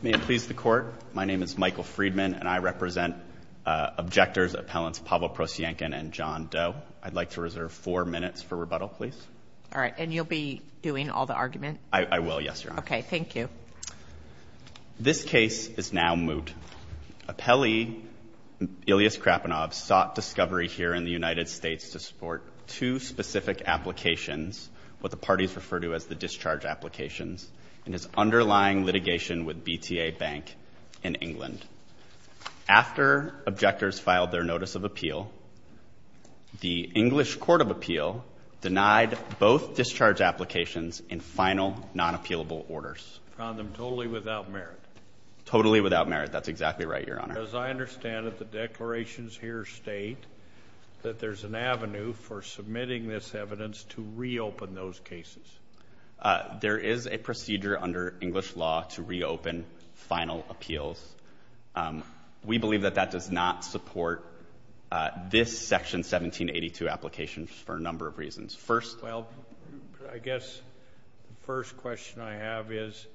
May it please the Court, my name is Michael Friedman and I represent objectors appellants Pavel Prosyankin and John Doe. I'd like to reserve four minutes for rebuttal, please. All right, and you'll be doing all the argument? I will, yes, Your Honor. Okay, thank you. This case is now moot. Appellee Ilyas Khrapunov sought discovery here in the United States to support two specific applications, what the parties refer to as the discharge applications, and his underlying litigation with BTA Bank in England. After objectors filed their notice of appeal, the English Court of Appeal denied both discharge applications in final non-appealable orders. Found them totally without merit. Totally without merit, that's exactly right, Your Honor. As I understand it, the declarations here state that there's an avenue for is a procedure under English law to reopen final appeals. We believe that that does not support this section 1782 application for a number of reasons. First, well, I guess the first question I have is,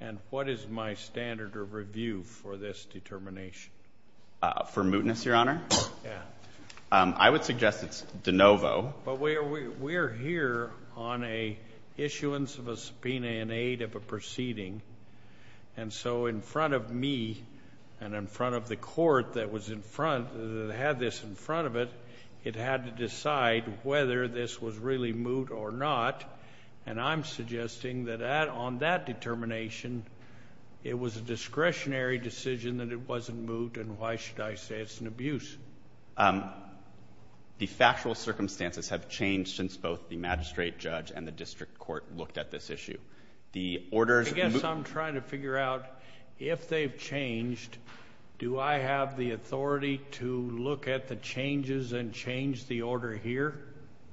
and what is my standard of review for this determination? For mootness, Your Honor? Yeah. I would suggest it's de novo. But we're here on a issuance of a subpoena in aid of a proceeding, and so in front of me and in front of the court that was in front, that had this in front of it, it had to decide whether this was really moot or not, and I'm suggesting that on that determination, it was a discretionary decision that it wasn't moot, and why should I say it's an abuse? The factual circumstances have changed since both the magistrate judge and the district court looked at this issue. The orders... I guess I'm trying to figure out if they've changed, do I have the authority to look at the changes and change the order here?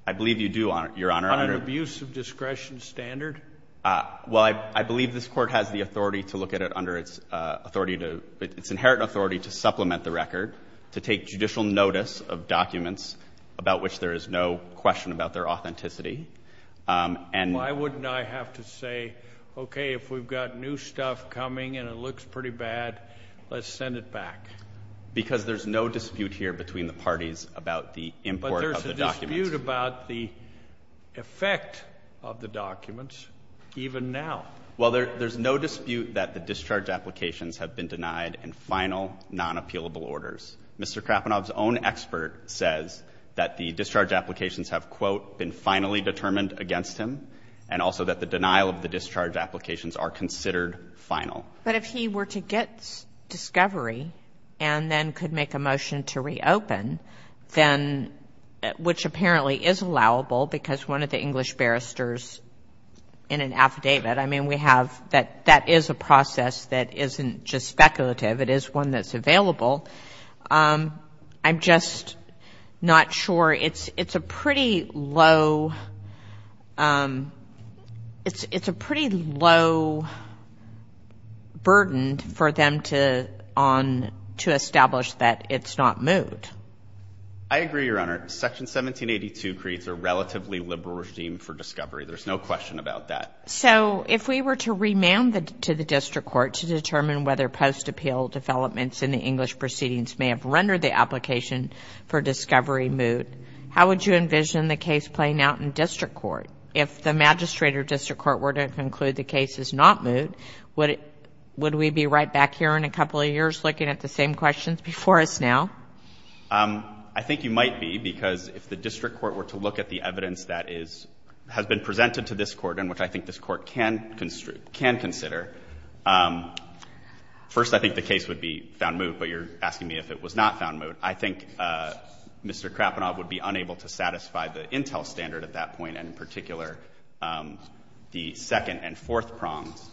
I believe you do, Your Honor. On an abuse of discretion standard? Well, I believe this court has the authority to look at it under its authority to... its inherent authority to supplement the record, to take judicial notice of documents about which there is no question about their authenticity, and... Why wouldn't I have to say, okay, if we've got new stuff coming and it looks pretty bad, let's send it back? Because there's no dispute here between the parties about the import of the records and about the effect of the documents, even now. Well, there's no dispute that the discharge applications have been denied in final, non-appealable orders. Mr. Krapanov's own expert says that the discharge applications have, quote, been finally determined against him, and also that the denial of the discharge applications are considered final. But if he were to get discovery and then could make a motion to reopen, then, which apparently is allowable, because one of the English barristers in an affidavit, I mean, we have that, that is a process that isn't just speculative. It is one that's available. I'm just not sure. It's it's a pretty low, it's a pretty low burden for them to on, to establish that it's not moot. I agree, Your Honor. Section 1782 creates a relatively liberal regime for discovery. There's no question about that. So if we were to remand the, to the district court to determine whether post-appeal developments in the English proceedings may have rendered the application for discovery moot, how would you envision the case playing out in district court? If the magistrate or district court were to conclude the case is not moot, would it, would we be right back here in a couple of years looking at the same questions before us now? I think you might be, because if the district court were to look at the evidence that is, has been presented to this court, and which I think this court can construe, can consider. First, I think the case would be found moot, but you're asking me if it was not found moot. I think Mr. Krapenau would be unable to satisfy the intel standard at that point, and in particular, the second and fourth prongs.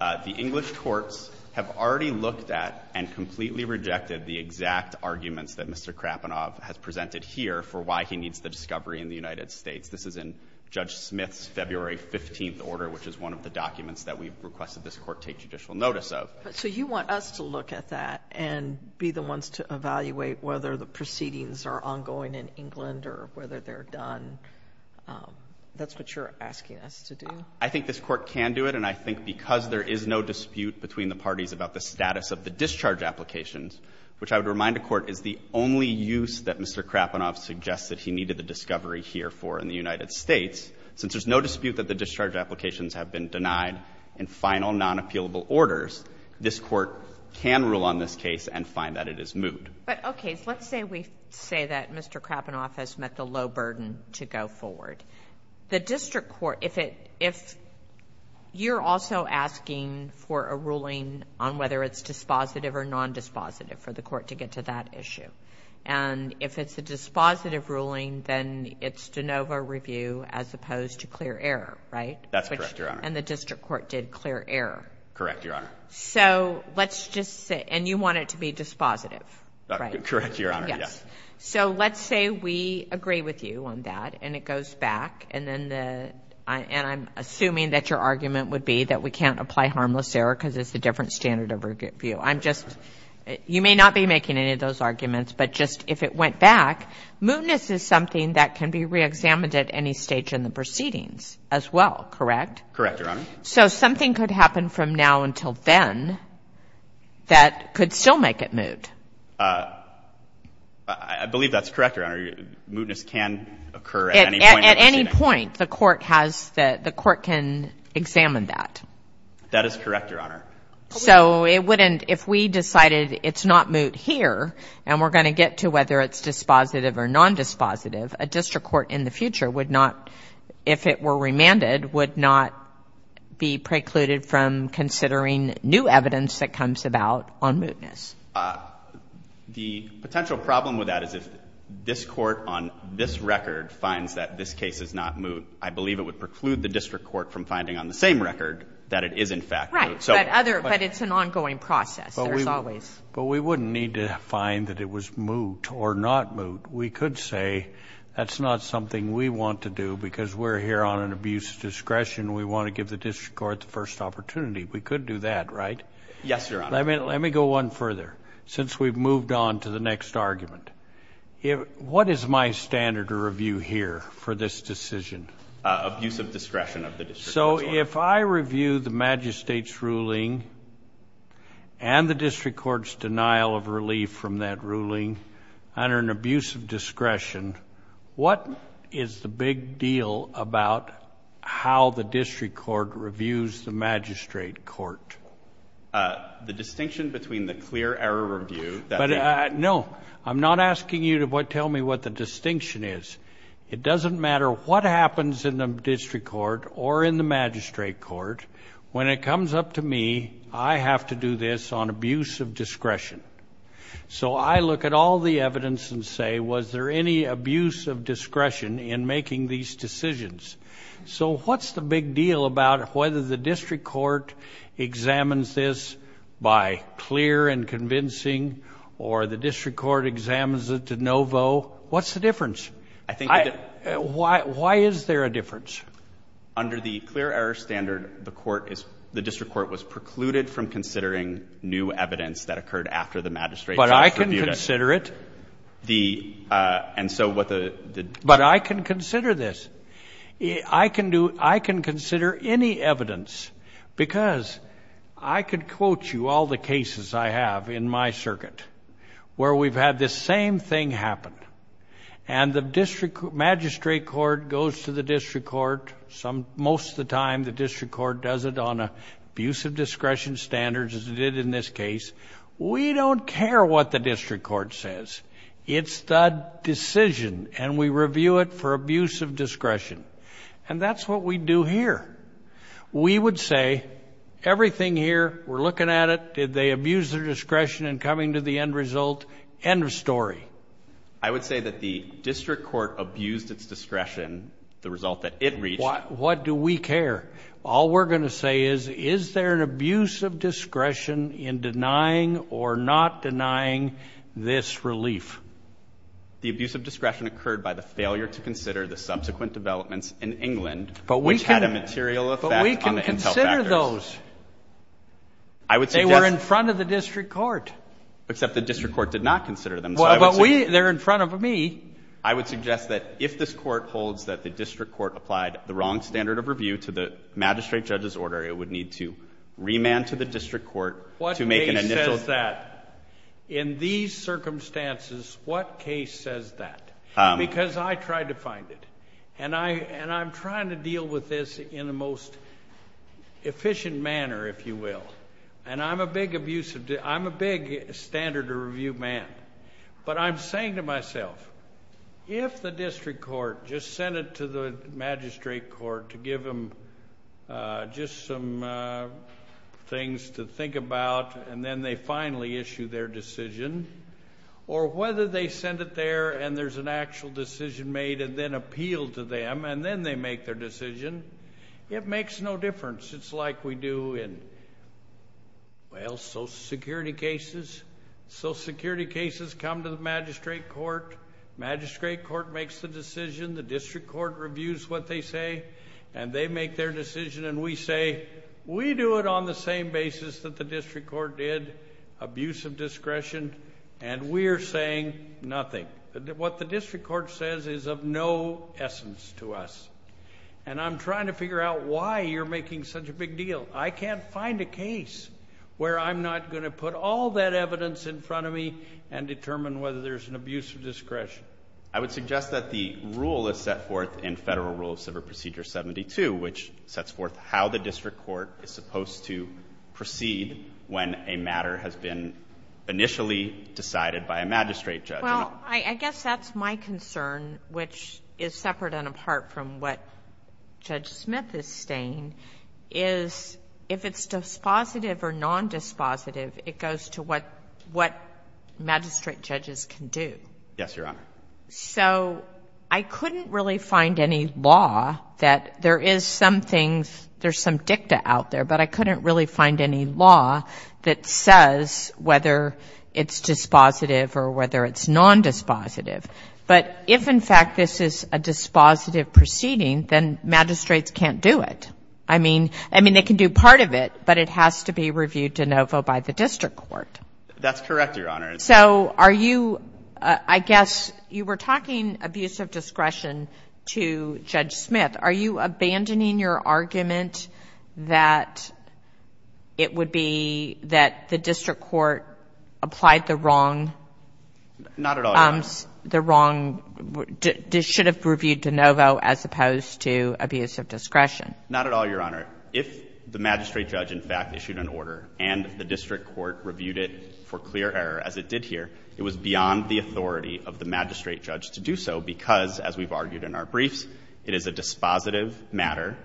The English courts have already looked at and completely rejected the exact arguments that Mr. Krapenau has presented here for why he needs the discovery in the United States. This is in Judge Smith's February 15th order, which is one of the documents that we've requested this Court take judicial notice of. But so you want us to look at that and be the ones to evaluate whether the proceedings are ongoing in England or whether they're done. That's what you're asking us to do? I think this Court can do it, and I think because there is no dispute between the parties about the status of the discharge applications, which I would remind the Court is the only use that Mr. Krapenau suggests that he needed the discovery here for in the United States, since there's no dispute that the discharge applications have been denied in final non-appealable orders, this Court can rule on this case and find that it is moot. But, okay, let's say we say that Mr. Krapenau has met the low burden to go forward. The district court, if it, if you're also asking for a ruling on whether it's dispositive or non-dispositive for the Court to get to that issue, and if it's a dispositive ruling, then it's de novo review as opposed to clear error, right? That's correct, Your Honor. And the district court did clear error. Correct, Your Honor. So let's just say, and you want it to be dispositive, right? Correct, Your Honor, yes. So let's say we agree with you on that, and it goes back, and then the, and I'm assuming that your argument would be that we can't apply harmless error because it's a different standard of review. I'm just, you may not be making any of those arguments, but just if it went back, mootness is something that can be reexamined at any stage in the proceedings as well, correct? Correct, Your Honor. So something could happen from now until then that could still make it moot? I believe that's correct, Your Honor. Mootness can occur at any point. At any point, the Court has, the Court can examine that. That is correct, Your Honor. So it wouldn't, if we decided it's not moot here, and we're going to get to whether it's dispositive or non-dispositive, a district court in the future would not, if it were remanded, would not be precluded from considering new evidence that comes about on mootness? The potential problem with that is if this Court on this record finds that this case is not moot, I believe it would preclude the district court from finding on the same record that it is in fact moot. Right, but other, but it's an ongoing process, there's always. But we wouldn't need to find that it was moot or not moot. We could say that's not something we want to do because we're here on an abuse discretion, we want to give the district court the first opportunity. We could do that, right? Yes, Your Honor. Let me go one further, since we've moved on to the next argument. What is my standard of review here for this decision? Abusive discretion of the district. So if I review the magistrate's ruling and the district court's denial of relief from that ruling under an abuse of discretion, what is the big deal about how the district court reviews the magistrate court? The distinction between the clear error review that... But no, I'm not asking you to tell me what the distinction is. It doesn't matter what happens in the district court or in the magistrate court, when it comes up to me, I have to do this on abuse of discretion. So I look at all the evidence and say, was there any abuse of discretion in making these decisions? So what's the big deal about whether the district court examines this by clear and convincing or the district court examines it to no vote? What's the difference? Why is there a difference? Under the clear error standard, the district court was precluded from considering new evidence that occurred after the magistrate... But I can consider it. But I can consider this. I can consider any evidence because I could quote you all the cases I have in my circuit where we've had this same thing happen and the magistrate court goes to the district court. Most of the time, the district court does it on abuse of discretion standards as it did in this case. We don't care what the district court says. It's the decision and we review it for abuse of discretion. And that's what we do here. We would say, everything here, we're looking at it, did they abuse their discretion in coming to the end result, end of story. I would say that the district court abused its discretion, the result that it reached... What do we care? All we're going to say is, is there an abuse of discretion in denying or not denying this relief? The abuse of discretion occurred by the failure to consider the subsequent developments in England... But we can consider those. I would suggest... They were in front of the district court. Except the district court did not consider them. Well, but they're in front of me. I would suggest that if this court holds that the district court applied the wrong standard of review to the magistrate judge's order, it would need to remand to the district court to make an initial... What case says that? In these circumstances, what case says that? Because I tried to find it. And I'm trying to deal with this in the most efficient manner, if you will. And I'm a big standard of review man. But I'm saying to myself, if the district court just sent it to the magistrate court to give them just some things to think about, and then they finally issue their decision, or whether they send it there and there's an actual decision made and then appealed to them, and then they make their decision, it makes no difference. It's like we do in, well, social security cases. Social security cases come to the magistrate court. Magistrate court makes the decision. The district court reviews what they say. And they make their decision. And we say, we do it on the same basis that the district court did, abuse of discretion. And we're saying nothing. What the district court says is of no essence to us. And I'm trying to figure out why you're making such a big deal. I can't find a case where I'm not going to put all that evidence in front of me and determine whether there's an abuse of discretion. I would suggest that the rule is set forth in Federal Rule of Civil Procedure 72, which sets forth how the district court is supposed to proceed when a matter has been initially decided by a magistrate judge. Well, I guess that's my concern, which is separate and apart from what Judge Smith is saying, is if it's dispositive or non-dispositive, it goes to what magistrate judges can do. Yes, Your Honor. So I couldn't really find any law that there is some things, there's some dicta out there. But I couldn't really find any law that says whether it's dispositive or whether it's non-dispositive. But if, in fact, this is a dispositive proceeding, then magistrates can't do it. I mean, they can do part of it, but it has to be reviewed de novo by the district court. That's correct, Your Honor. So are you, I guess you were talking abuse of discretion to Judge Smith. Are you abandoning your argument that it would be that the district court applied the wrong... Not at all, Your Honor. ...the wrong, should have reviewed de novo as opposed to abuse of discretion? Not at all, Your Honor. If the magistrate judge, in fact, issued an order and the district court reviewed it for clear error, as it did here, it was beyond the authority of the magistrate judge to do so because, as we've argued in our briefs, it is a dispositive matter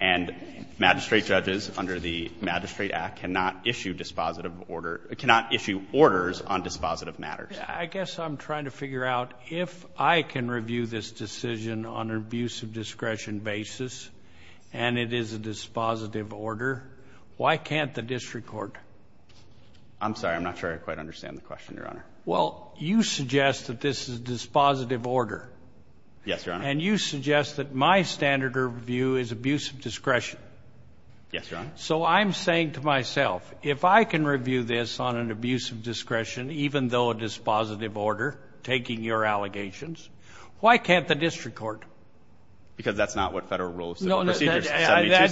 and magistrate judges under the Magistrate Act cannot issue dispositive order, cannot issue orders on dispositive matters. I guess I'm trying to figure out if I can review this decision on an abuse of discretion basis and it is a dispositive order, why can't the district court? I'm sorry. I'm not sure I quite understand the question, Your Honor. Well, you suggest that this is a dispositive order. Yes, Your Honor. And you suggest that my standard of review is abuse of discretion. Yes, Your Honor. So I'm saying to myself, if I can review this on an abuse of discretion, even though it is a dispositive order, taking your allegations, why can't the district court? Because that's not what Federal Rule of Civil Procedures 72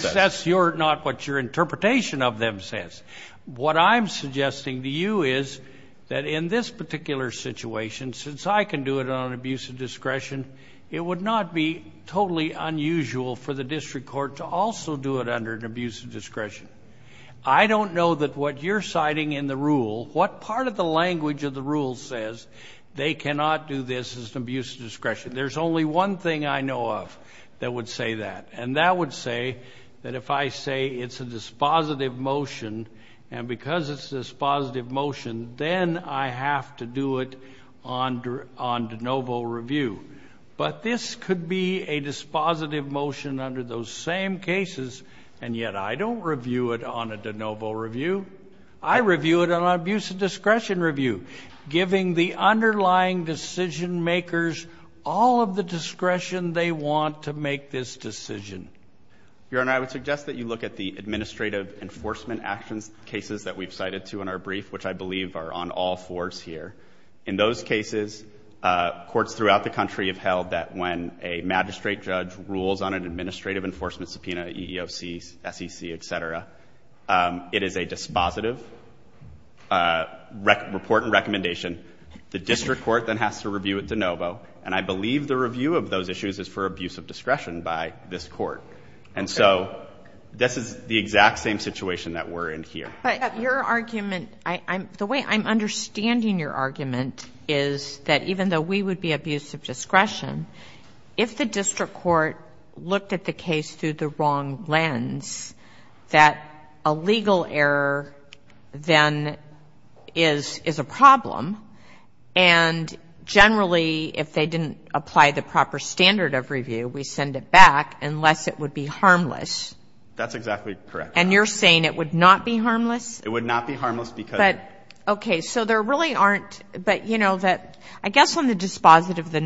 says. That's not what your interpretation of them says. What I'm suggesting to you is that in this particular situation, since I can do it on an abuse of discretion, it would not be totally unusual for the district court to also do it under an abuse of discretion. I don't know that what you're citing in the rule, what part of the language of the rule says they cannot do this as an abuse of discretion. There's only one thing I know of that would say that, and that would say that if I say it's a dispositive motion, and because it's a dispositive motion, then I have to do it on de novo review. But this could be a dispositive motion under those same cases, and yet I don't review it on a de novo review. I review it on an abuse of discretion review. Giving the underlying decision makers all of the discretion they want to make this decision. Your Honor, I would suggest that you look at the administrative enforcement actions cases that we've cited to in our brief, which I believe are on all fours here. In those cases, courts throughout the country have held that when a magistrate judge rules on an administrative enforcement subpoena, EEOC, SEC, et cetera, it is a dispositive report and recommendation. The district court then has to review it de novo, and I believe the review of those issues is for abuse of discretion by this court. And so this is the exact same situation that we're in here. But your argument, the way I'm understanding your argument is that even though we would be abuse of discretion, if the district court looked at the case through the wrong lens, that a legal error then is a problem. And generally, if they didn't apply the proper standard of review, we send it back unless it would be harmless. That's exactly correct. And you're saying it would not be harmless? It would not be harmless because... But, okay. So there really aren't, but you know that, I guess on the dispositive, the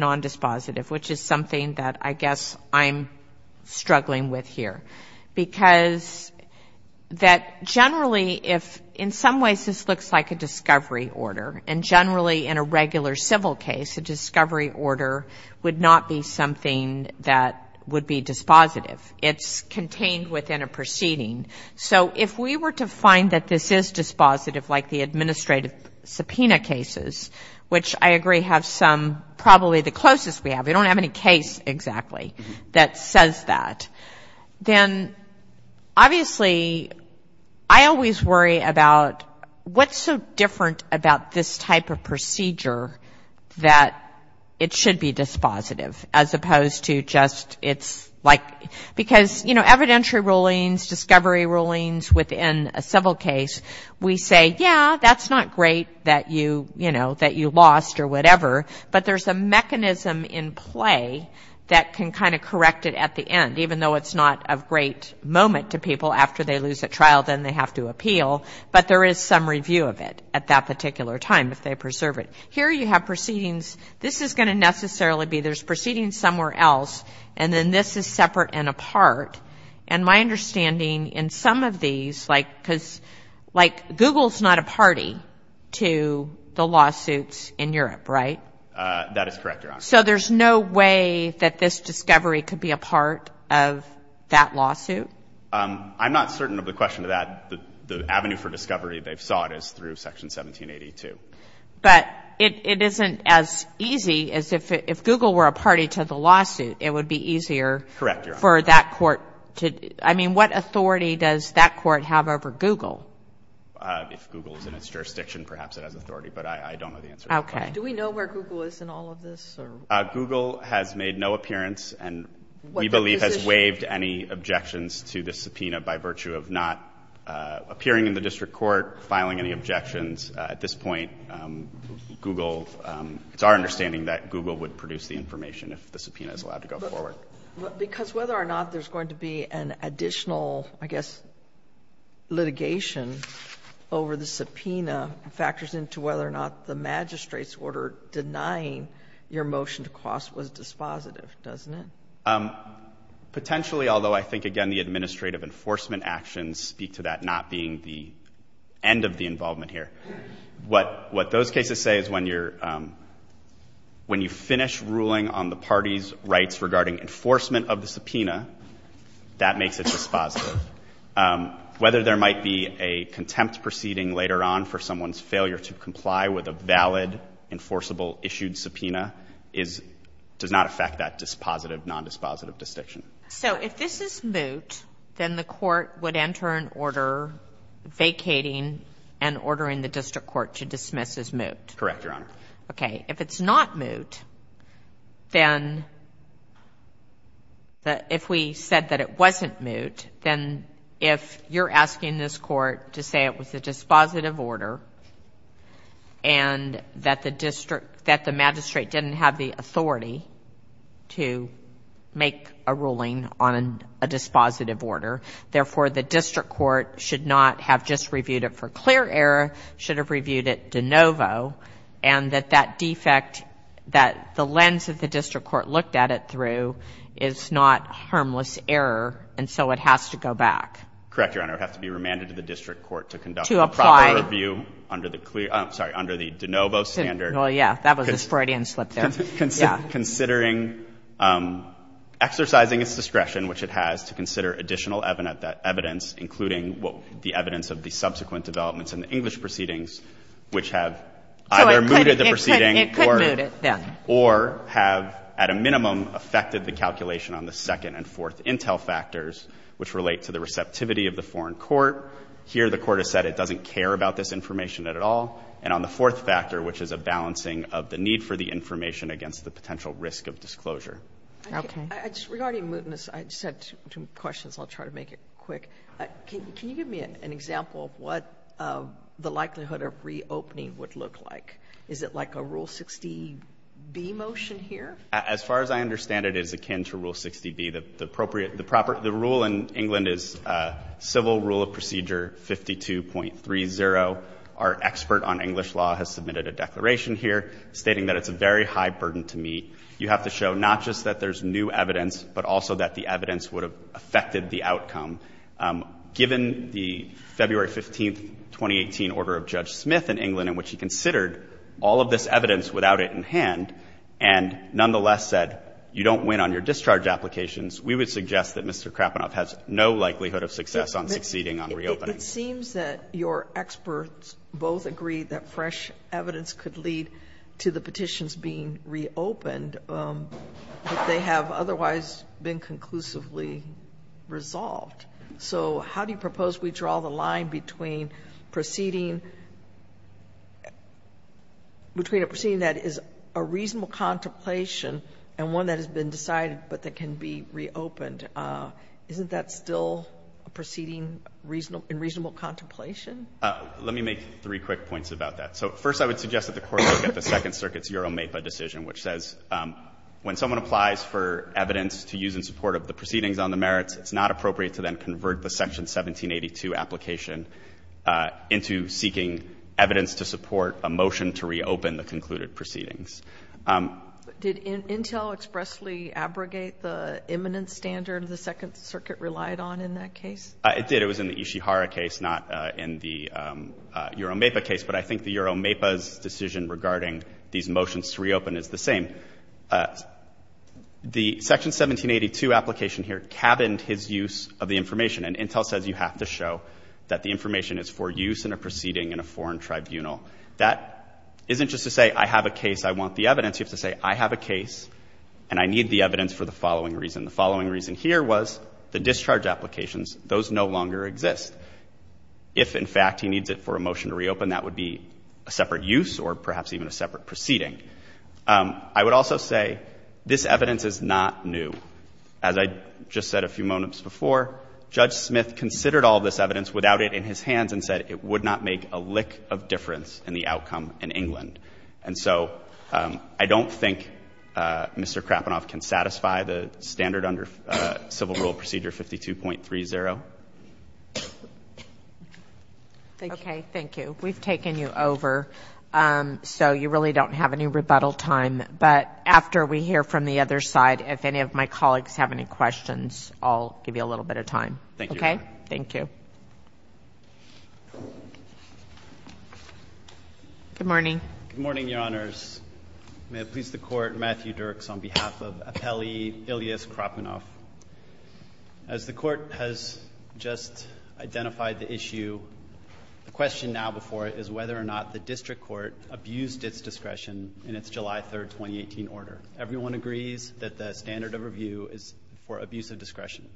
Because that generally, if in some ways this looks like a discovery order, and generally in a regular civil case, a discovery order would not be something that would be dispositive. It's contained within a proceeding. So if we were to find that this is dispositive, like the administrative subpoena cases, which I agree have some, probably the closest we have. We don't have any case exactly that says that. Then, obviously, I always worry about what's so different about this type of procedure that it should be dispositive as opposed to just it's like, because, you know, evidentiary rulings, discovery rulings within a civil case, we say, yeah, that's not great that you, you know, that you lost or whatever, but there's a mechanism in play that can kind of correct it at the end, even though it's not a great moment to people after they lose a trial, then they have to appeal. But there is some review of it at that particular time, if they preserve it. Here you have proceedings. This is going to necessarily be, there's proceedings somewhere else, and then this is separate and apart. And my understanding in some of these, like, because, like Google's not a party to the lawsuits in Europe, right? That is correct, Your Honor. So there's no way that this discovery could be a part of that lawsuit? I'm not certain of the question to that. The avenue for discovery, they've sought, is through Section 1782. But it isn't as easy as if Google were a party to the lawsuit, it would be easier for that court to, I mean, what authority does that court have over Google? If Google is in its jurisdiction, perhaps it has authority, but I don't know the answer. Okay. Do we know where Google is in all of this or? Google has made no appearance and we believe has waived any objections to the subpoena by virtue of not appearing in the district court, filing any objections. At this point, Google, it's our understanding that Google would produce the information if the subpoena is allowed to go forward. Because whether or not there's going to be an additional, I guess, litigation over the subpoena factors into whether or not the magistrate's order denying your motion to cross was dispositive, doesn't it? Potentially, although I think, again, the administrative enforcement actions speak to that not being the end of the involvement here. What those cases say is when you're, when you finish ruling on the party's rights regarding enforcement of the subpoena, that makes it dispositive. Whether there might be a contempt proceeding later on for someone's failure to comply with a valid enforceable issued subpoena is, does not affect that dispositive, non-dispositive distinction. So if this is moot, then the court would enter an order vacating and ordering the district court to dismiss as moot? Correct, Your Honor. Okay. If it's not moot, then if we said that it wasn't moot, then if you're asking this court to say it was a dispositive order and that the district, that the magistrate didn't have the authority to make a ruling on a dispositive order, therefore, the district court should not have just reviewed it for clear error, should have reviewed it de novo, and that that defect, that the lens of the district court looked at it through is not harmless error, and so it has to go back? Correct, Your Honor. It would have to be remanded to the district court to conduct a proper review under the clear, I'm sorry, under the de novo standard. Well, yeah, that was a Freudian slip there. Considering, exercising its discretion, which it has, to consider additional evidence, including the evidence of the subsequent developments in the English proceedings, which have either mooted the proceeding or have, at a minimum, affected the calculation on the second and fourth intel factors, which relate to the receptivity of the foreign court. Here, the court has said it doesn't care about this information at all. And on the fourth factor, which is a balancing of the need for the information against the potential risk of disclosure. Okay. Regarding mootness, I just had two questions. I'll try to make it quick. Can you give me an example of what the likelihood of reopening would look like? Is it like a Rule 60B motion here? As far as I understand it, it is akin to Rule 60B. The appropriate, the rule in England is Civil Rule of Procedure 52.30. Our expert on English law has submitted a declaration here stating that it's a very high burden to meet. You have to show not just that there's new evidence, but also that the evidence would have affected the outcome. Given the February 15th, 2018 order of Judge Smith in England, in which he considered all of this evidence without it in hand, and nonetheless said, you don't win on your discharge applications. We would suggest that Mr. Krapenow has no likelihood of success on succeeding on reopening. It seems that your experts both agree that fresh evidence could lead to the petitions being reopened, but they have otherwise been conclusively resolved. So how do you propose we draw the line between proceeding, between a proceeding that is a reasonable contemplation and one that has been decided but that can be reopened? Isn't that still a proceeding in reasonable contemplation? Let me make three quick points about that. So first, I would suggest that the Court look at the Second Circuit's Euro MEPA decision, which says when someone applies for evidence to use in support of the proceedings on the merits, it's not appropriate to then convert the Section 1782 application into seeking evidence to support a motion to reopen the concluded proceedings. Did Intel expressly abrogate the eminence standard the Second Circuit relied on in that case? It did. It was in the Ishihara case, not in the Euro MEPA case. But I think the Euro MEPA's decision regarding these motions to reopen is the same. The Section 1782 application here cabined his use of the information, and Intel says you have to show that the information is for use in a proceeding in a foreign tribunal. That isn't just to say, I have a case, I want the evidence. You have to say, I have a case, and I need the evidence for the following reason. The following reason here was the discharge applications, those no longer exist. If, in fact, he needs it for a motion to reopen, that would be a separate use or perhaps even a separate proceeding. I would also say, this evidence is not new. As I just said a few moments before, Judge Smith considered all this evidence without it in his hands and said it would not make a lick of difference in the outcome in England. And so, I don't think Mr. Krapanoff can satisfy the standard under civil rule procedure 52.30. Thank you. Okay, thank you. We've taken you over, so you really don't have any rebuttal time. But after we hear from the other side, if any of my colleagues have any questions, I'll give you a little bit of time. Thank you. Okay? Thank you. Good morning. Good morning, Your Honors. May it please the Court, Matthew Dirks on behalf of Apelli Ilias Krapanoff. As the Court has just identified the issue, the question now before it is whether or not the district court abused its discretion in its July 3rd, 2018 order. Everyone agrees that the standard of review is for abuse of discretion.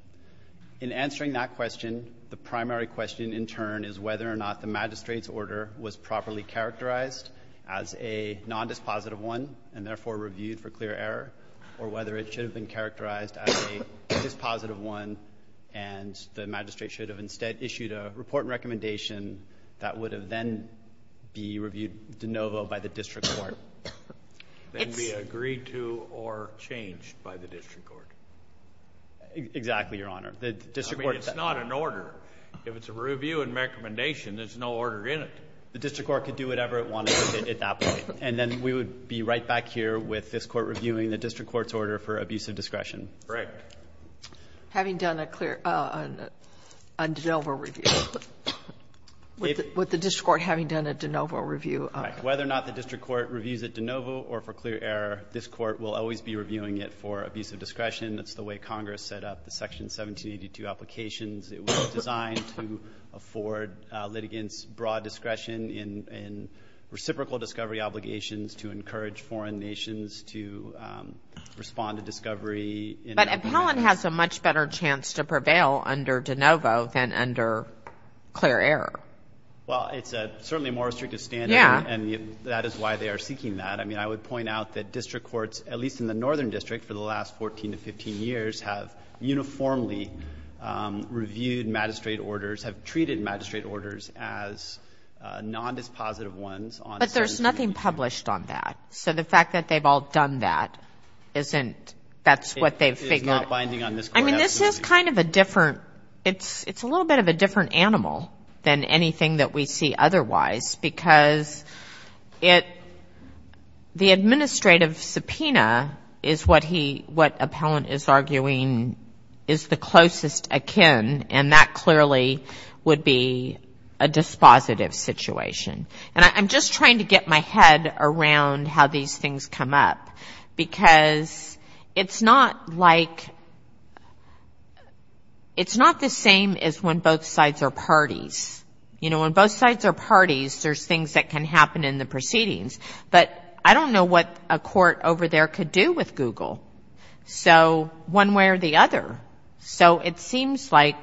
In answering that question, the primary question in turn is whether or not the magistrate's order was properly characterized as a nondispositive one and therefore reviewed for clear error, or whether it should have been characterized as a dispositive one and the magistrate should have instead issued a report and recommendation that would have then be reviewed de novo by the district court. It's. Then be agreed to or changed by the district court. Exactly, Your Honor. The district court. I mean, it's not an order. If it's a review and recommendation, there's no order in it. The district court could do whatever it wanted at that point. And then we would be right back here with this Court reviewing the district court's order for abuse of discretion. Correct. Having done a clear de novo review. With the district court having done a de novo review. Correct. Whether or not the district court reviews it de novo or for clear error, this Court will always be reviewing it for abuse of discretion. That's the way Congress set up the Section 1782 applications. It was designed to afford litigants broad discretion in reciprocal discovery obligations, to encourage foreign nations to respond to discovery. But Appellant has a much better chance to prevail under de novo than under clear error. Well, it's certainly a more restrictive standard and that is why they are seeking that. I mean, I would point out that district courts, at least in the northern district for the last 14 to 15 years, have uniformly reviewed magistrate orders, have treated magistrate orders as non-dispositive ones. But there's nothing published on that. So the fact that they've all done that isn't, that's what they've figured. It's not binding on this court. I mean, this is kind of a different, it's a little bit of a different animal than anything that we see otherwise because it, the administrative subpoena is what he, what Appellant is arguing is the closest akin and that clearly would be a dispositive situation. And I'm just trying to get my head around how these things come up because it's not like, it's not the same as when both sides are parties. You know, when both sides are parties, there's things that can happen in the proceedings. But I don't know what a court over there could do with Google. So one way or the other. So it seems like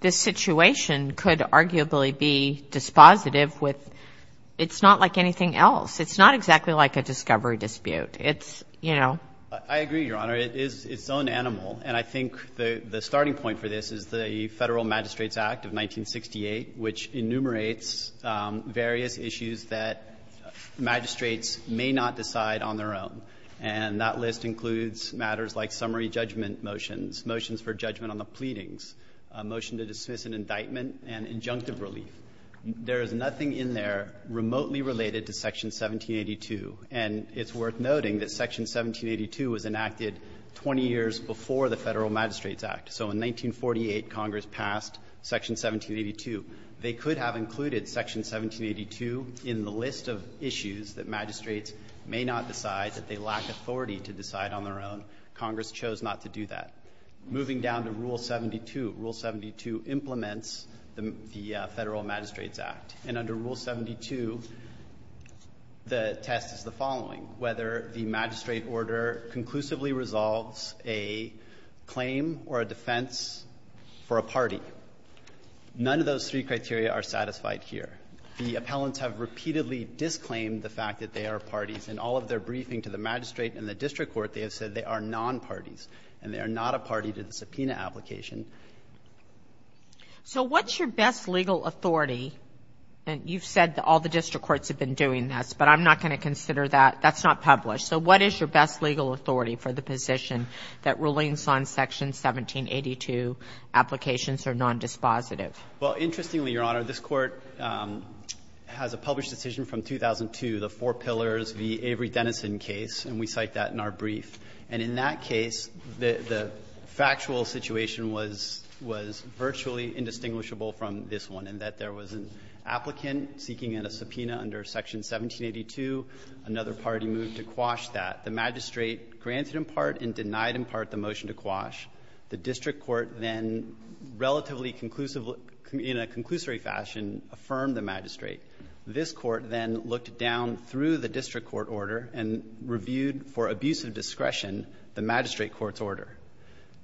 this situation could arguably be dispositive with, it's not like anything else. It's not exactly like a discovery dispute. It's, you know. I agree, Your Honor. It's its own animal. And I think the starting point for this is the Federal Magistrates Act of 1968, which enumerates various issues that magistrates may not decide on their own. And that list includes matters like summary judgment motions, motions for judgment on the pleadings, a motion to dismiss an indictment, and injunctive relief. There is nothing in there remotely related to Section 1782. And it's worth noting that Section 1782 was enacted 20 years before the Federal Magistrates Act. So in 1948, Congress passed Section 1782. They could have included Section 1782 in the list of issues that magistrates may not decide, that they lack authority to decide on their own. Congress chose not to do that. Moving down to Rule 72, Rule 72 implements the Federal Magistrates Act. And under Rule 72, the test is the following, whether the magistrate order conclusively resolves a claim or a defense for a party. None of those three criteria are satisfied here. The appellants have repeatedly disclaimed the fact that they are parties. In all of their briefing to the magistrate and the district court, they have said they are non-parties. And they are not a party to the subpoena application. So what's your best legal authority? And you've said that all the district courts have been doing this, but I'm not going to consider that. That's not published. So what is your best legal authority for the position that rulings on Section 1782 applications are non-dispositive? Well, interestingly, Your Honor, this Court has a published decision from 2002, the Four Pillars v. Avery-Denison case, and we cite that in our brief. And in that case, the factual situation was virtually indistinguishable from this one in that there was an applicant seeking a subpoena under Section 1782, another party moved to quash that. The magistrate granted in part and denied in part the motion to quash. The district court then relatively conclusively, in a conclusory fashion, affirmed the magistrate. This court then looked down through the district court order and reviewed for abuse of discretion the magistrate court's order.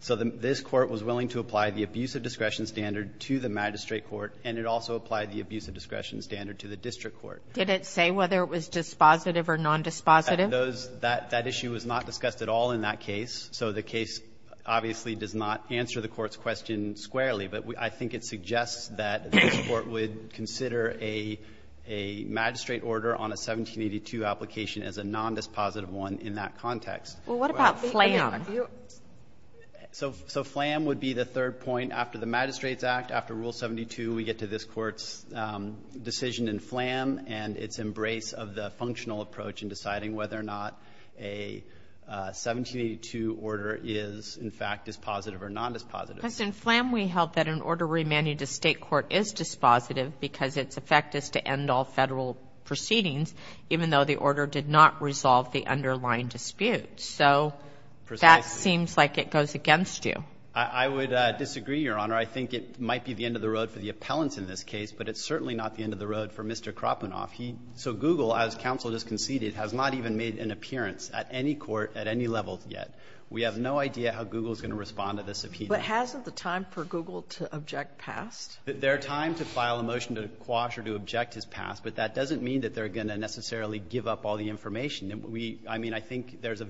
So this court was willing to apply the abuse of discretion standard to the magistrate court, and it also applied the abuse of discretion standard to the district court. Did it say whether it was dispositive or non-dispositive? That issue was not discussed at all in that case. So the case obviously does not answer the Court's question squarely, but I think it suggests that this Court would consider a magistrate order on a 1782 application as a non-dispositive one in that context. Well, what about Flam? So Flam would be the third point after the Magistrates Act. After Rule 72, we get to this Court's decision in Flam and its embrace of the functional approach in deciding whether or not a 1782 order is, in fact, dispositive or non-dispositive. But in Flam, we held that an order remanded to state court is dispositive because its effect is to end all federal proceedings, even though the order did not resolve the underlying dispute. So that seems like it goes against you. I would disagree, Your Honor. I think it might be the end of the road for the appellants in this case, but it's certainly not the end of the road for Mr. Kropenoff. He — so Google, as counsel just conceded, has not even made an appearance at any court at any level yet. We have no idea how Google is going to respond to this subpoena. But hasn't the time for Google to object passed? Their time to file a motion to quash or to object has passed, but that doesn't mean that they're going to necessarily give up all the information. We — I mean, I think there's a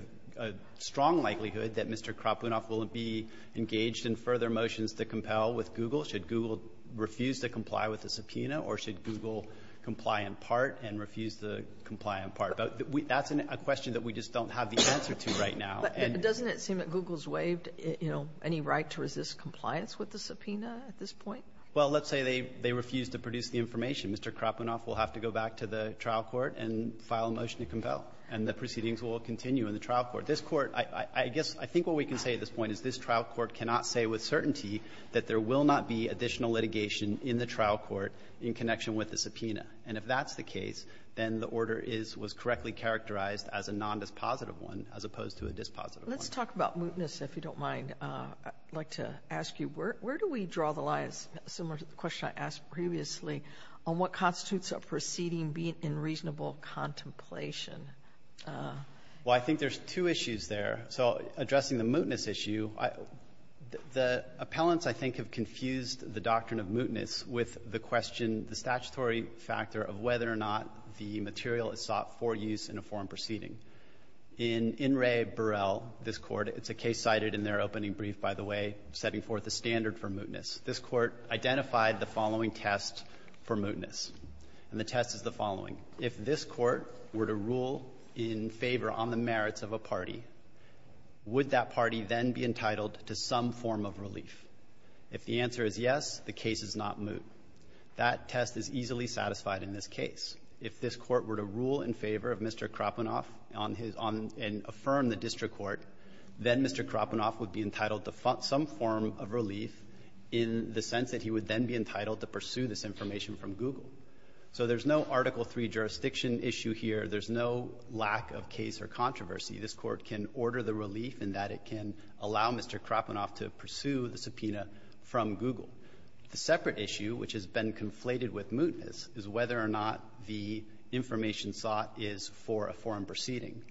strong likelihood that Mr. Kropenoff will be engaged in further motions to compel with Google should Google refuse to comply with the subpoena or should Google comply in part and refuse to comply in part. But that's a question that we just don't have the answer to right now. And — But doesn't it seem that Google's waived, you know, any right to resist compliance with the subpoena at this point? Well, let's say they refuse to produce the information. Mr. Kropenoff will have to go back to the trial court and file a motion to compel, and the proceedings will continue in the trial court. This Court — I guess I think what we can say at this point is this trial court cannot say with certainty that there will not be additional litigation in the trial court in connection with the subpoena. And if that's the case, then the order is — was correctly characterized as a nondispositive one as opposed to a dispositive one. Let's talk about mootness, if you don't mind. I'd like to ask you, where do we draw the line, similar to the question I asked previously, on what constitutes a proceeding being in reasonable contemplation? Well, I think there's two issues there. So addressing the mootness issue, the appellants, I think, have confused the doctrine of mootness with the question, the statutory factor of whether or not the material is sought for use in a foreign proceeding. In In re Burel, this Court — it's a case cited in their opening brief, by the way, setting forth the standard for mootness — this Court identified the following test for mootness. And the test is the following. If this Court were to rule in favor on the merits of a party, would that party then be entitled to some form of relief? If the answer is yes, the case is not moot. That test is easily satisfied in this case. If this Court were to rule in favor of Mr. Krapunov and affirm the district court, then Mr. Krapunov would be entitled to some form of relief in the sense that he would then be entitled to pursue this information from Google. So there's no Article III jurisdiction issue here. There's no lack of case or controversy. This Court can order the relief in that it can allow Mr. Krapunov to pursue the subpoena from Google. The separate issue, which has been conflated with mootness, is whether or not the information sought is for a foreign proceeding,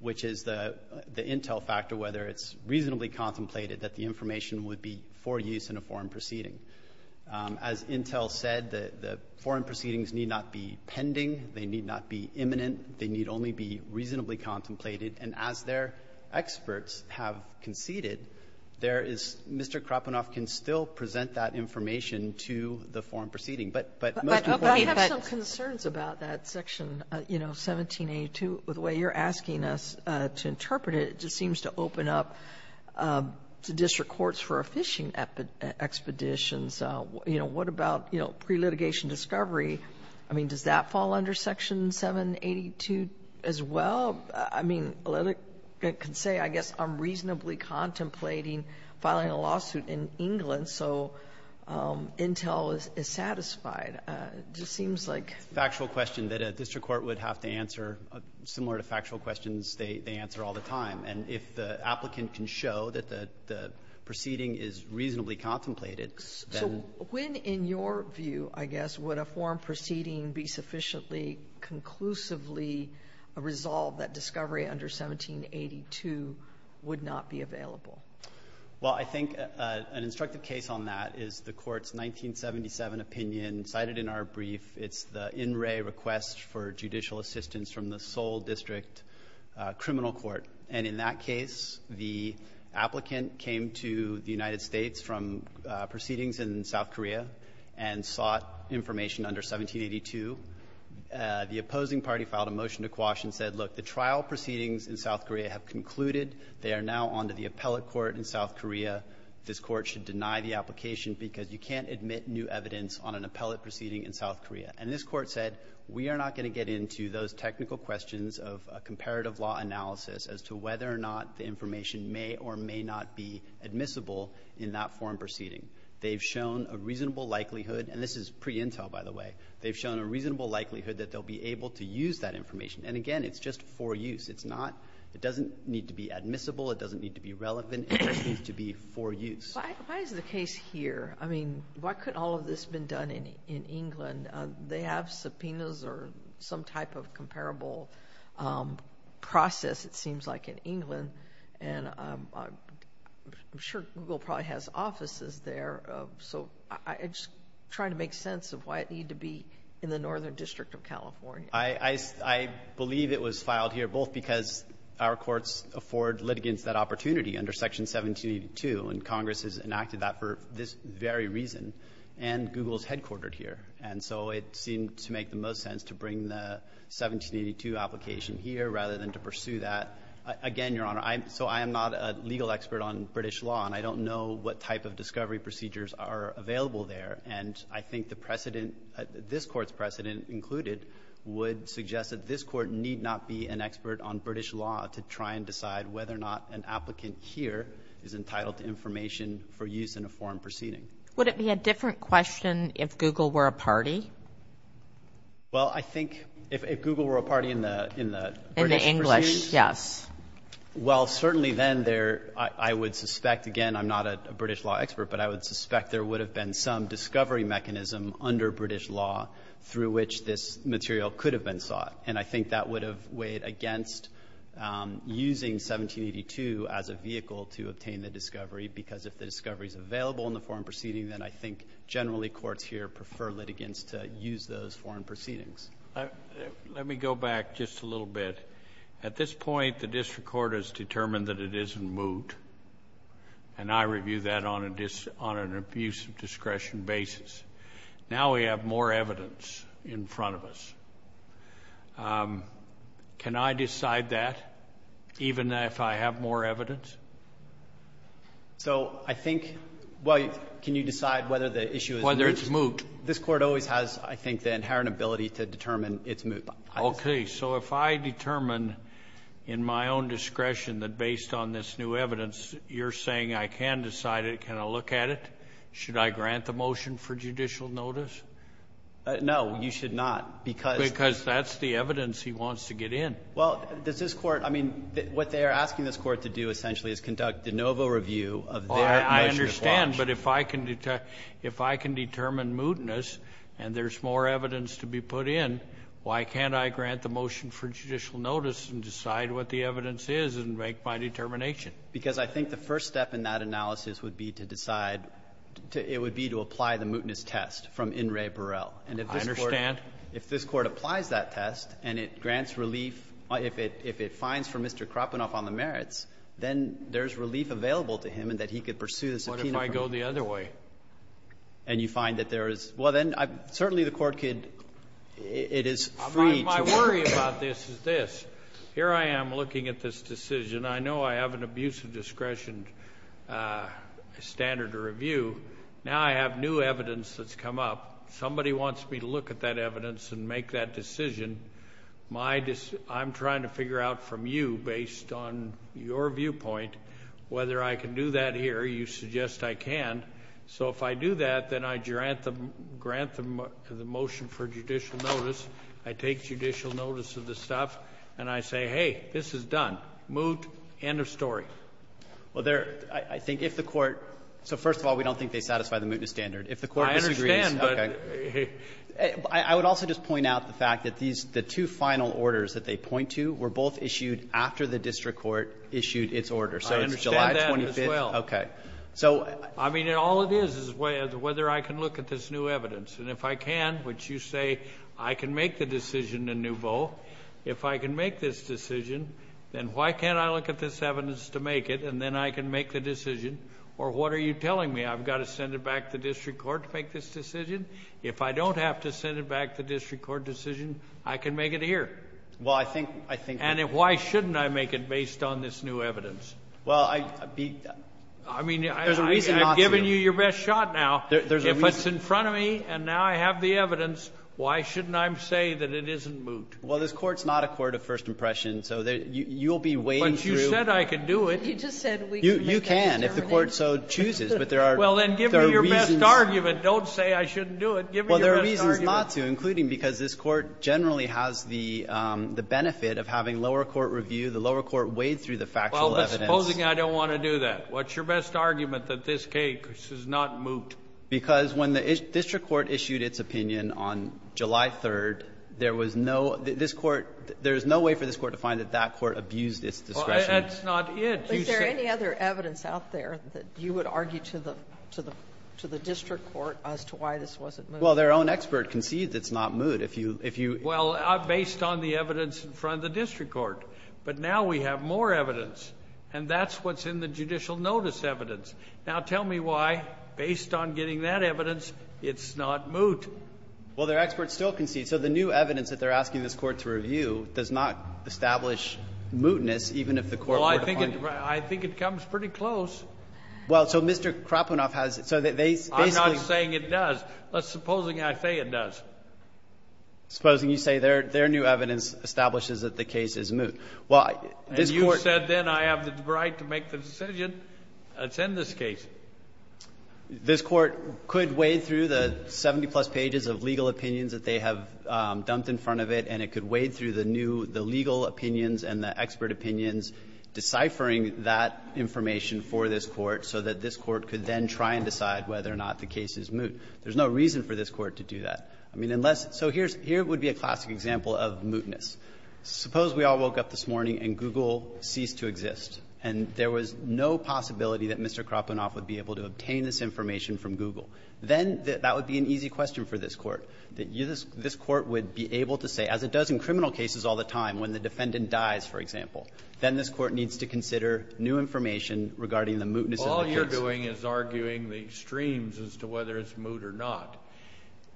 which is the — the intel factor, whether it's reasonably contemplated that the information would be for use in a foreign proceeding. As intel said, the — the foreign proceedings need not be pending. They need not be imminent. They need only be reasonably contemplated. And as their experts have conceded, there is — Mr. Krapunov can still present that information to the foreign proceeding. But — But I have some concerns about that section, you know, 1782. The way you're asking us to interpret it, it just seems to open up to district courts for a phishing expeditions. You know, what about, you know, pre-litigation discovery? I mean, does that fall under Section 782 as well? I mean, a litigant can say, I guess, I'm reasonably contemplating filing a lawsuit in England, so intel is satisfied. It just seems like — Factual question that a district court would have to answer, similar to factual questions they answer all the time. And if the applicant can show that the proceeding is reasonably contemplated, then — When, in your view, I guess, would a foreign proceeding be sufficiently conclusively resolved that discovery under 1782 would not be available? Well, I think an instructive case on that is the Court's 1977 opinion cited in our brief. It's the in-ray request for judicial assistance from the Seoul District Criminal Court. And in that case, the applicant came to the United States from proceedings in South Korea and sought information under 1782. The opposing party filed a motion to quash and said, look, the trial proceedings in South Korea have concluded. They are now on to the appellate court in South Korea. This court should deny the application because you can't admit new evidence on an appellate proceeding in South Korea. And this court said, we are not going to get into those technical questions of a comparative law analysis as to whether or not the information may or may not be admissible in that foreign proceeding. They've shown a reasonable likelihood — and this is pre-intel, by the way — they've shown a reasonable likelihood that they'll be able to use that information. And again, it's just for use. It's not — it doesn't need to be admissible. It doesn't need to be relevant. It just needs to be for use. Why is the case here? I mean, why couldn't all of this have been done in England? And they have subpoenas or some type of comparable process, it seems like, in England. And I'm sure Google probably has offices there. So I'm just trying to make sense of why it needed to be in the Northern District of California. I believe it was filed here both because our courts afford litigants that opportunity under Section 1782, and Congress has enacted that for this very reason, and Google is headquartered here. And so it seemed to make the most sense to bring the 1782 application here rather than to pursue that. Again, Your Honor, so I am not a legal expert on British law, and I don't know what type of discovery procedures are available there. And I think the precedent — this Court's precedent included would suggest that this Court need not be an expert on British law to try and decide whether or not an applicant here is entitled to information for use in a foreign proceeding. Would it be a different question if Google were a party? Well, I think if Google were a party in the British proceedings — In the English, yes. Well, certainly then there — I would suspect, again, I'm not a British law expert, but I would suspect there would have been some discovery mechanism under British law through which this material could have been sought. And I think that would have weighed against using 1782 as a vehicle to obtain the discovery, because if the discovery is available in the foreign proceeding, then I think generally courts here prefer litigants to use those foreign proceedings. Let me go back just a little bit. At this point, the district court has determined that it isn't moot, and I review that on an abuse of discretion basis. Now we have more evidence in front of us. Can I decide that, even if I have more evidence? So I think — well, can you decide whether the issue is moot? Whether it's moot. This Court always has, I think, the inherent ability to determine it's moot. Okay. So if I determine in my own discretion that based on this new evidence, you're saying I can decide it, can I look at it, should I grant the motion for judicial notice? No, you should not, because — Because that's the evidence he wants to get in. Well, does this Court — I mean, what they are asking this Court to do, essentially, is conduct de novo review of their measure of law. I understand, but if I can determine mootness and there's more evidence to be put in, why can't I grant the motion for judicial notice and decide what the evidence is and make my determination? Because I think the first step in that analysis would be to decide — it would be to apply the mootness test from In re Perel. I understand. If this Court applies that test and it grants relief, if it finds for Mr. Kropenoff on the merits, then there's relief available to him and that he could pursue the subpoena for it. What if I go the other way? And you find that there is — well, then, certainly the Court could — it is free to — My worry about this is this. Here I am looking at this decision. I know I have an abuse of discretion standard to review. Now I have new evidence that's come up. Somebody wants me to look at that evidence and make that decision. My — I'm trying to figure out from you, based on your viewpoint, whether I can do that here. You suggest I can. So if I do that, then I grant the motion for judicial notice. I take judicial notice of the stuff, and I say, hey, this is done, moot, end of story. Well, there — I think if the Court — so, first of all, we don't think they satisfy the mootness standard. If the Court disagrees — I would also just point out the fact that these — the two final orders that they point to were both issued after the district court issued its order. So it's July 25th — I understand that as well. Okay. So — I mean, all it is is whether I can look at this new evidence. And if I can, which you say I can make the decision in nouveau, if I can make this decision, then why can't I look at this evidence to make it, and then I can make the decision? Or what are you telling me? I've got to send it back to the district court to make this decision? If I don't have to send it back to the district court decision, I can make it here. Well, I think — And why shouldn't I make it based on this new evidence? Well, I — I mean, I've given you your best shot now. If it's in front of me, and now I have the evidence, why shouldn't I say that it isn't moot? Well, this Court's not a court of first impression, so you'll be wading through — But you said I could do it. You just said we could make the decision. You can, if the Court so chooses. But there are — Well, then give me your best argument. Don't say I shouldn't do it. Give me your best argument. Well, there are reasons not to, including because this Court generally has the benefit of having lower court review. The lower court wade through the factual evidence. Well, supposing I don't want to do that. What's your best argument that this case is not moot? Because when the district court issued its opinion on July 3rd, there was no — this Court — there is no way for this Court to find that that Court abused its discretion. Well, that's not it. Is there any other evidence out there that you would argue to the — to the district court as to why this wasn't moot? Well, their own expert concedes it's not moot. If you — if you — Well, based on the evidence in front of the district court. But now we have more evidence. And that's what's in the judicial notice evidence. Now, tell me why, based on getting that evidence, it's not moot. Well, their expert still concedes. So the new evidence that they're asking this Court to review does not establish mootness, even if the Court were to find it. I think it comes pretty close. Well, so Mr. Krapunov has — so they basically — I'm not saying it does. Let's — supposing I say it does. Supposing you say their new evidence establishes that the case is moot. Well, this Court — And you said then I have the right to make the decision that's in this case. This Court could wade through the 70-plus pages of legal opinions that they have dumped in front of it, and it could wade through the new — the legal opinions and the expert opinions, deciphering that information for this Court so that this is moot. There's no reason for this Court to do that. I mean, unless — so here's — here would be a classic example of mootness. Suppose we all woke up this morning and Google ceased to exist, and there was no possibility that Mr. Krapunov would be able to obtain this information from Google. Then that would be an easy question for this Court, that this Court would be able to say, as it does in criminal cases all the time, when the defendant dies, for example, is arguing the extremes as to whether it's moot or not.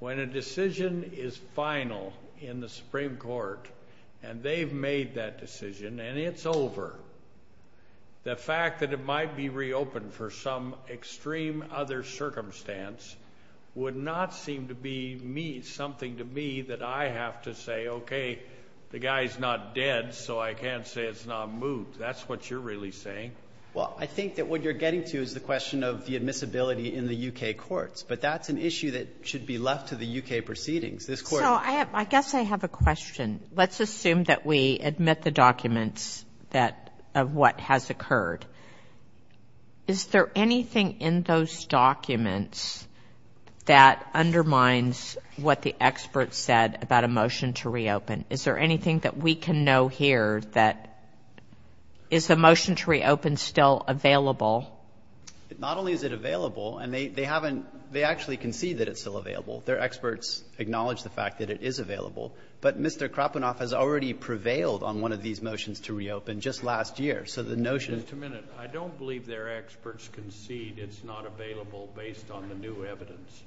When a decision is final in the Supreme Court, and they've made that decision, and it's over, the fact that it might be reopened for some extreme other circumstance would not seem to be something to me that I have to say, okay, the guy's not dead, so I can't say it's not moot. That's what you're really saying. Well, I think that what you're getting to is the question of the admissibility in the U.K. courts. But that's an issue that should be left to the U.K. proceedings. This Court — So I have — I guess I have a question. Let's assume that we admit the documents that — of what has occurred. Is there anything in those documents that undermines what the expert said about a motion to reopen? Is there anything that we can know here that — is the motion to reopen still available? Not only is it available, and they haven't — they actually concede that it's still available. Their experts acknowledge the fact that it is available. But Mr. Krapunov has already prevailed on one of these motions to reopen just last year. So the notion — Just a minute. I don't believe their experts concede it's not available based on the new evidence.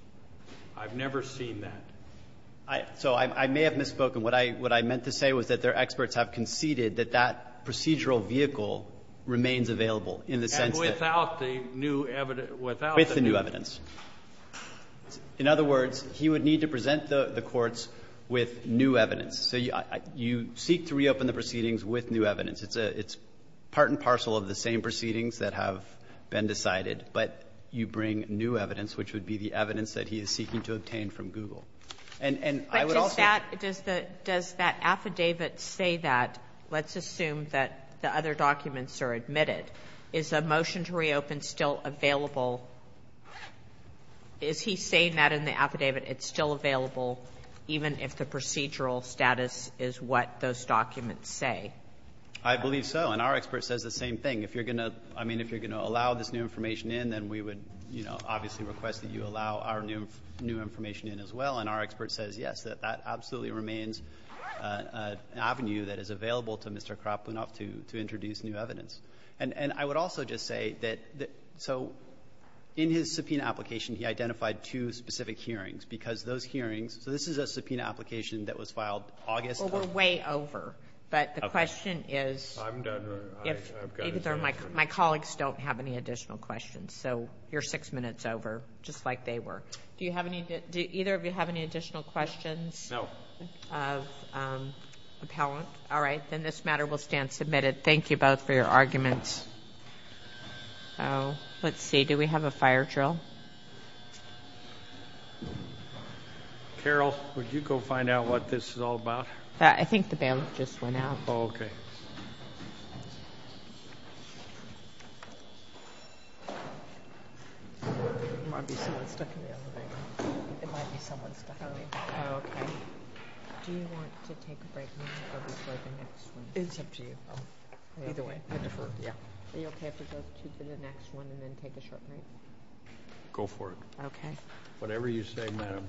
I've never seen that. So I may have misspoken. What I — what I meant to say was that their experts have conceded that that procedural vehicle remains available in the sense that — And without the new evidence — without the new — With the new evidence. In other words, he would need to present the courts with new evidence. So you seek to reopen the proceedings with new evidence. It's a — it's part and parcel of the same proceedings that have been decided, but you bring new evidence, which would be the evidence that he is seeking to obtain from Google. And I would also — But does that — does the — does that affidavit say that? Let's assume that the other documents are admitted. Is the motion to reopen still available? Is he saying that in the affidavit it's still available even if the procedural status is what those documents say? I believe so. And our expert says the same thing. If you're going to — I mean, if you're going to allow this new information in, then we would, you know, obviously request that you allow our new information in as well. And our expert says yes, that that absolutely remains an avenue that is available to Mr. Krapunov to introduce new evidence. And I would also just say that — so in his subpoena application, he identified two specific hearings, because those hearings — so this is a subpoena application that was filed August — Well, we're way over. But the question is — I'm done. My colleagues don't have any additional questions. So you're six minutes over, just like they were. Do you have any — do either of you have any additional questions? No. Of appellant? All right. Then this matter will stand submitted. Thank you both for your arguments. Oh, let's see. Do we have a fire drill? Carol, would you go find out what this is all about? I think the bailiff just went out. Oh, okay. It might be someone stuffing me. Oh, okay. Do you want to take a break now or before the next one? It's up to you. Either way, I defer. Yeah. Are you okay if we go to the next one and then take a short break? Go for it. Okay. Whatever you say, madam.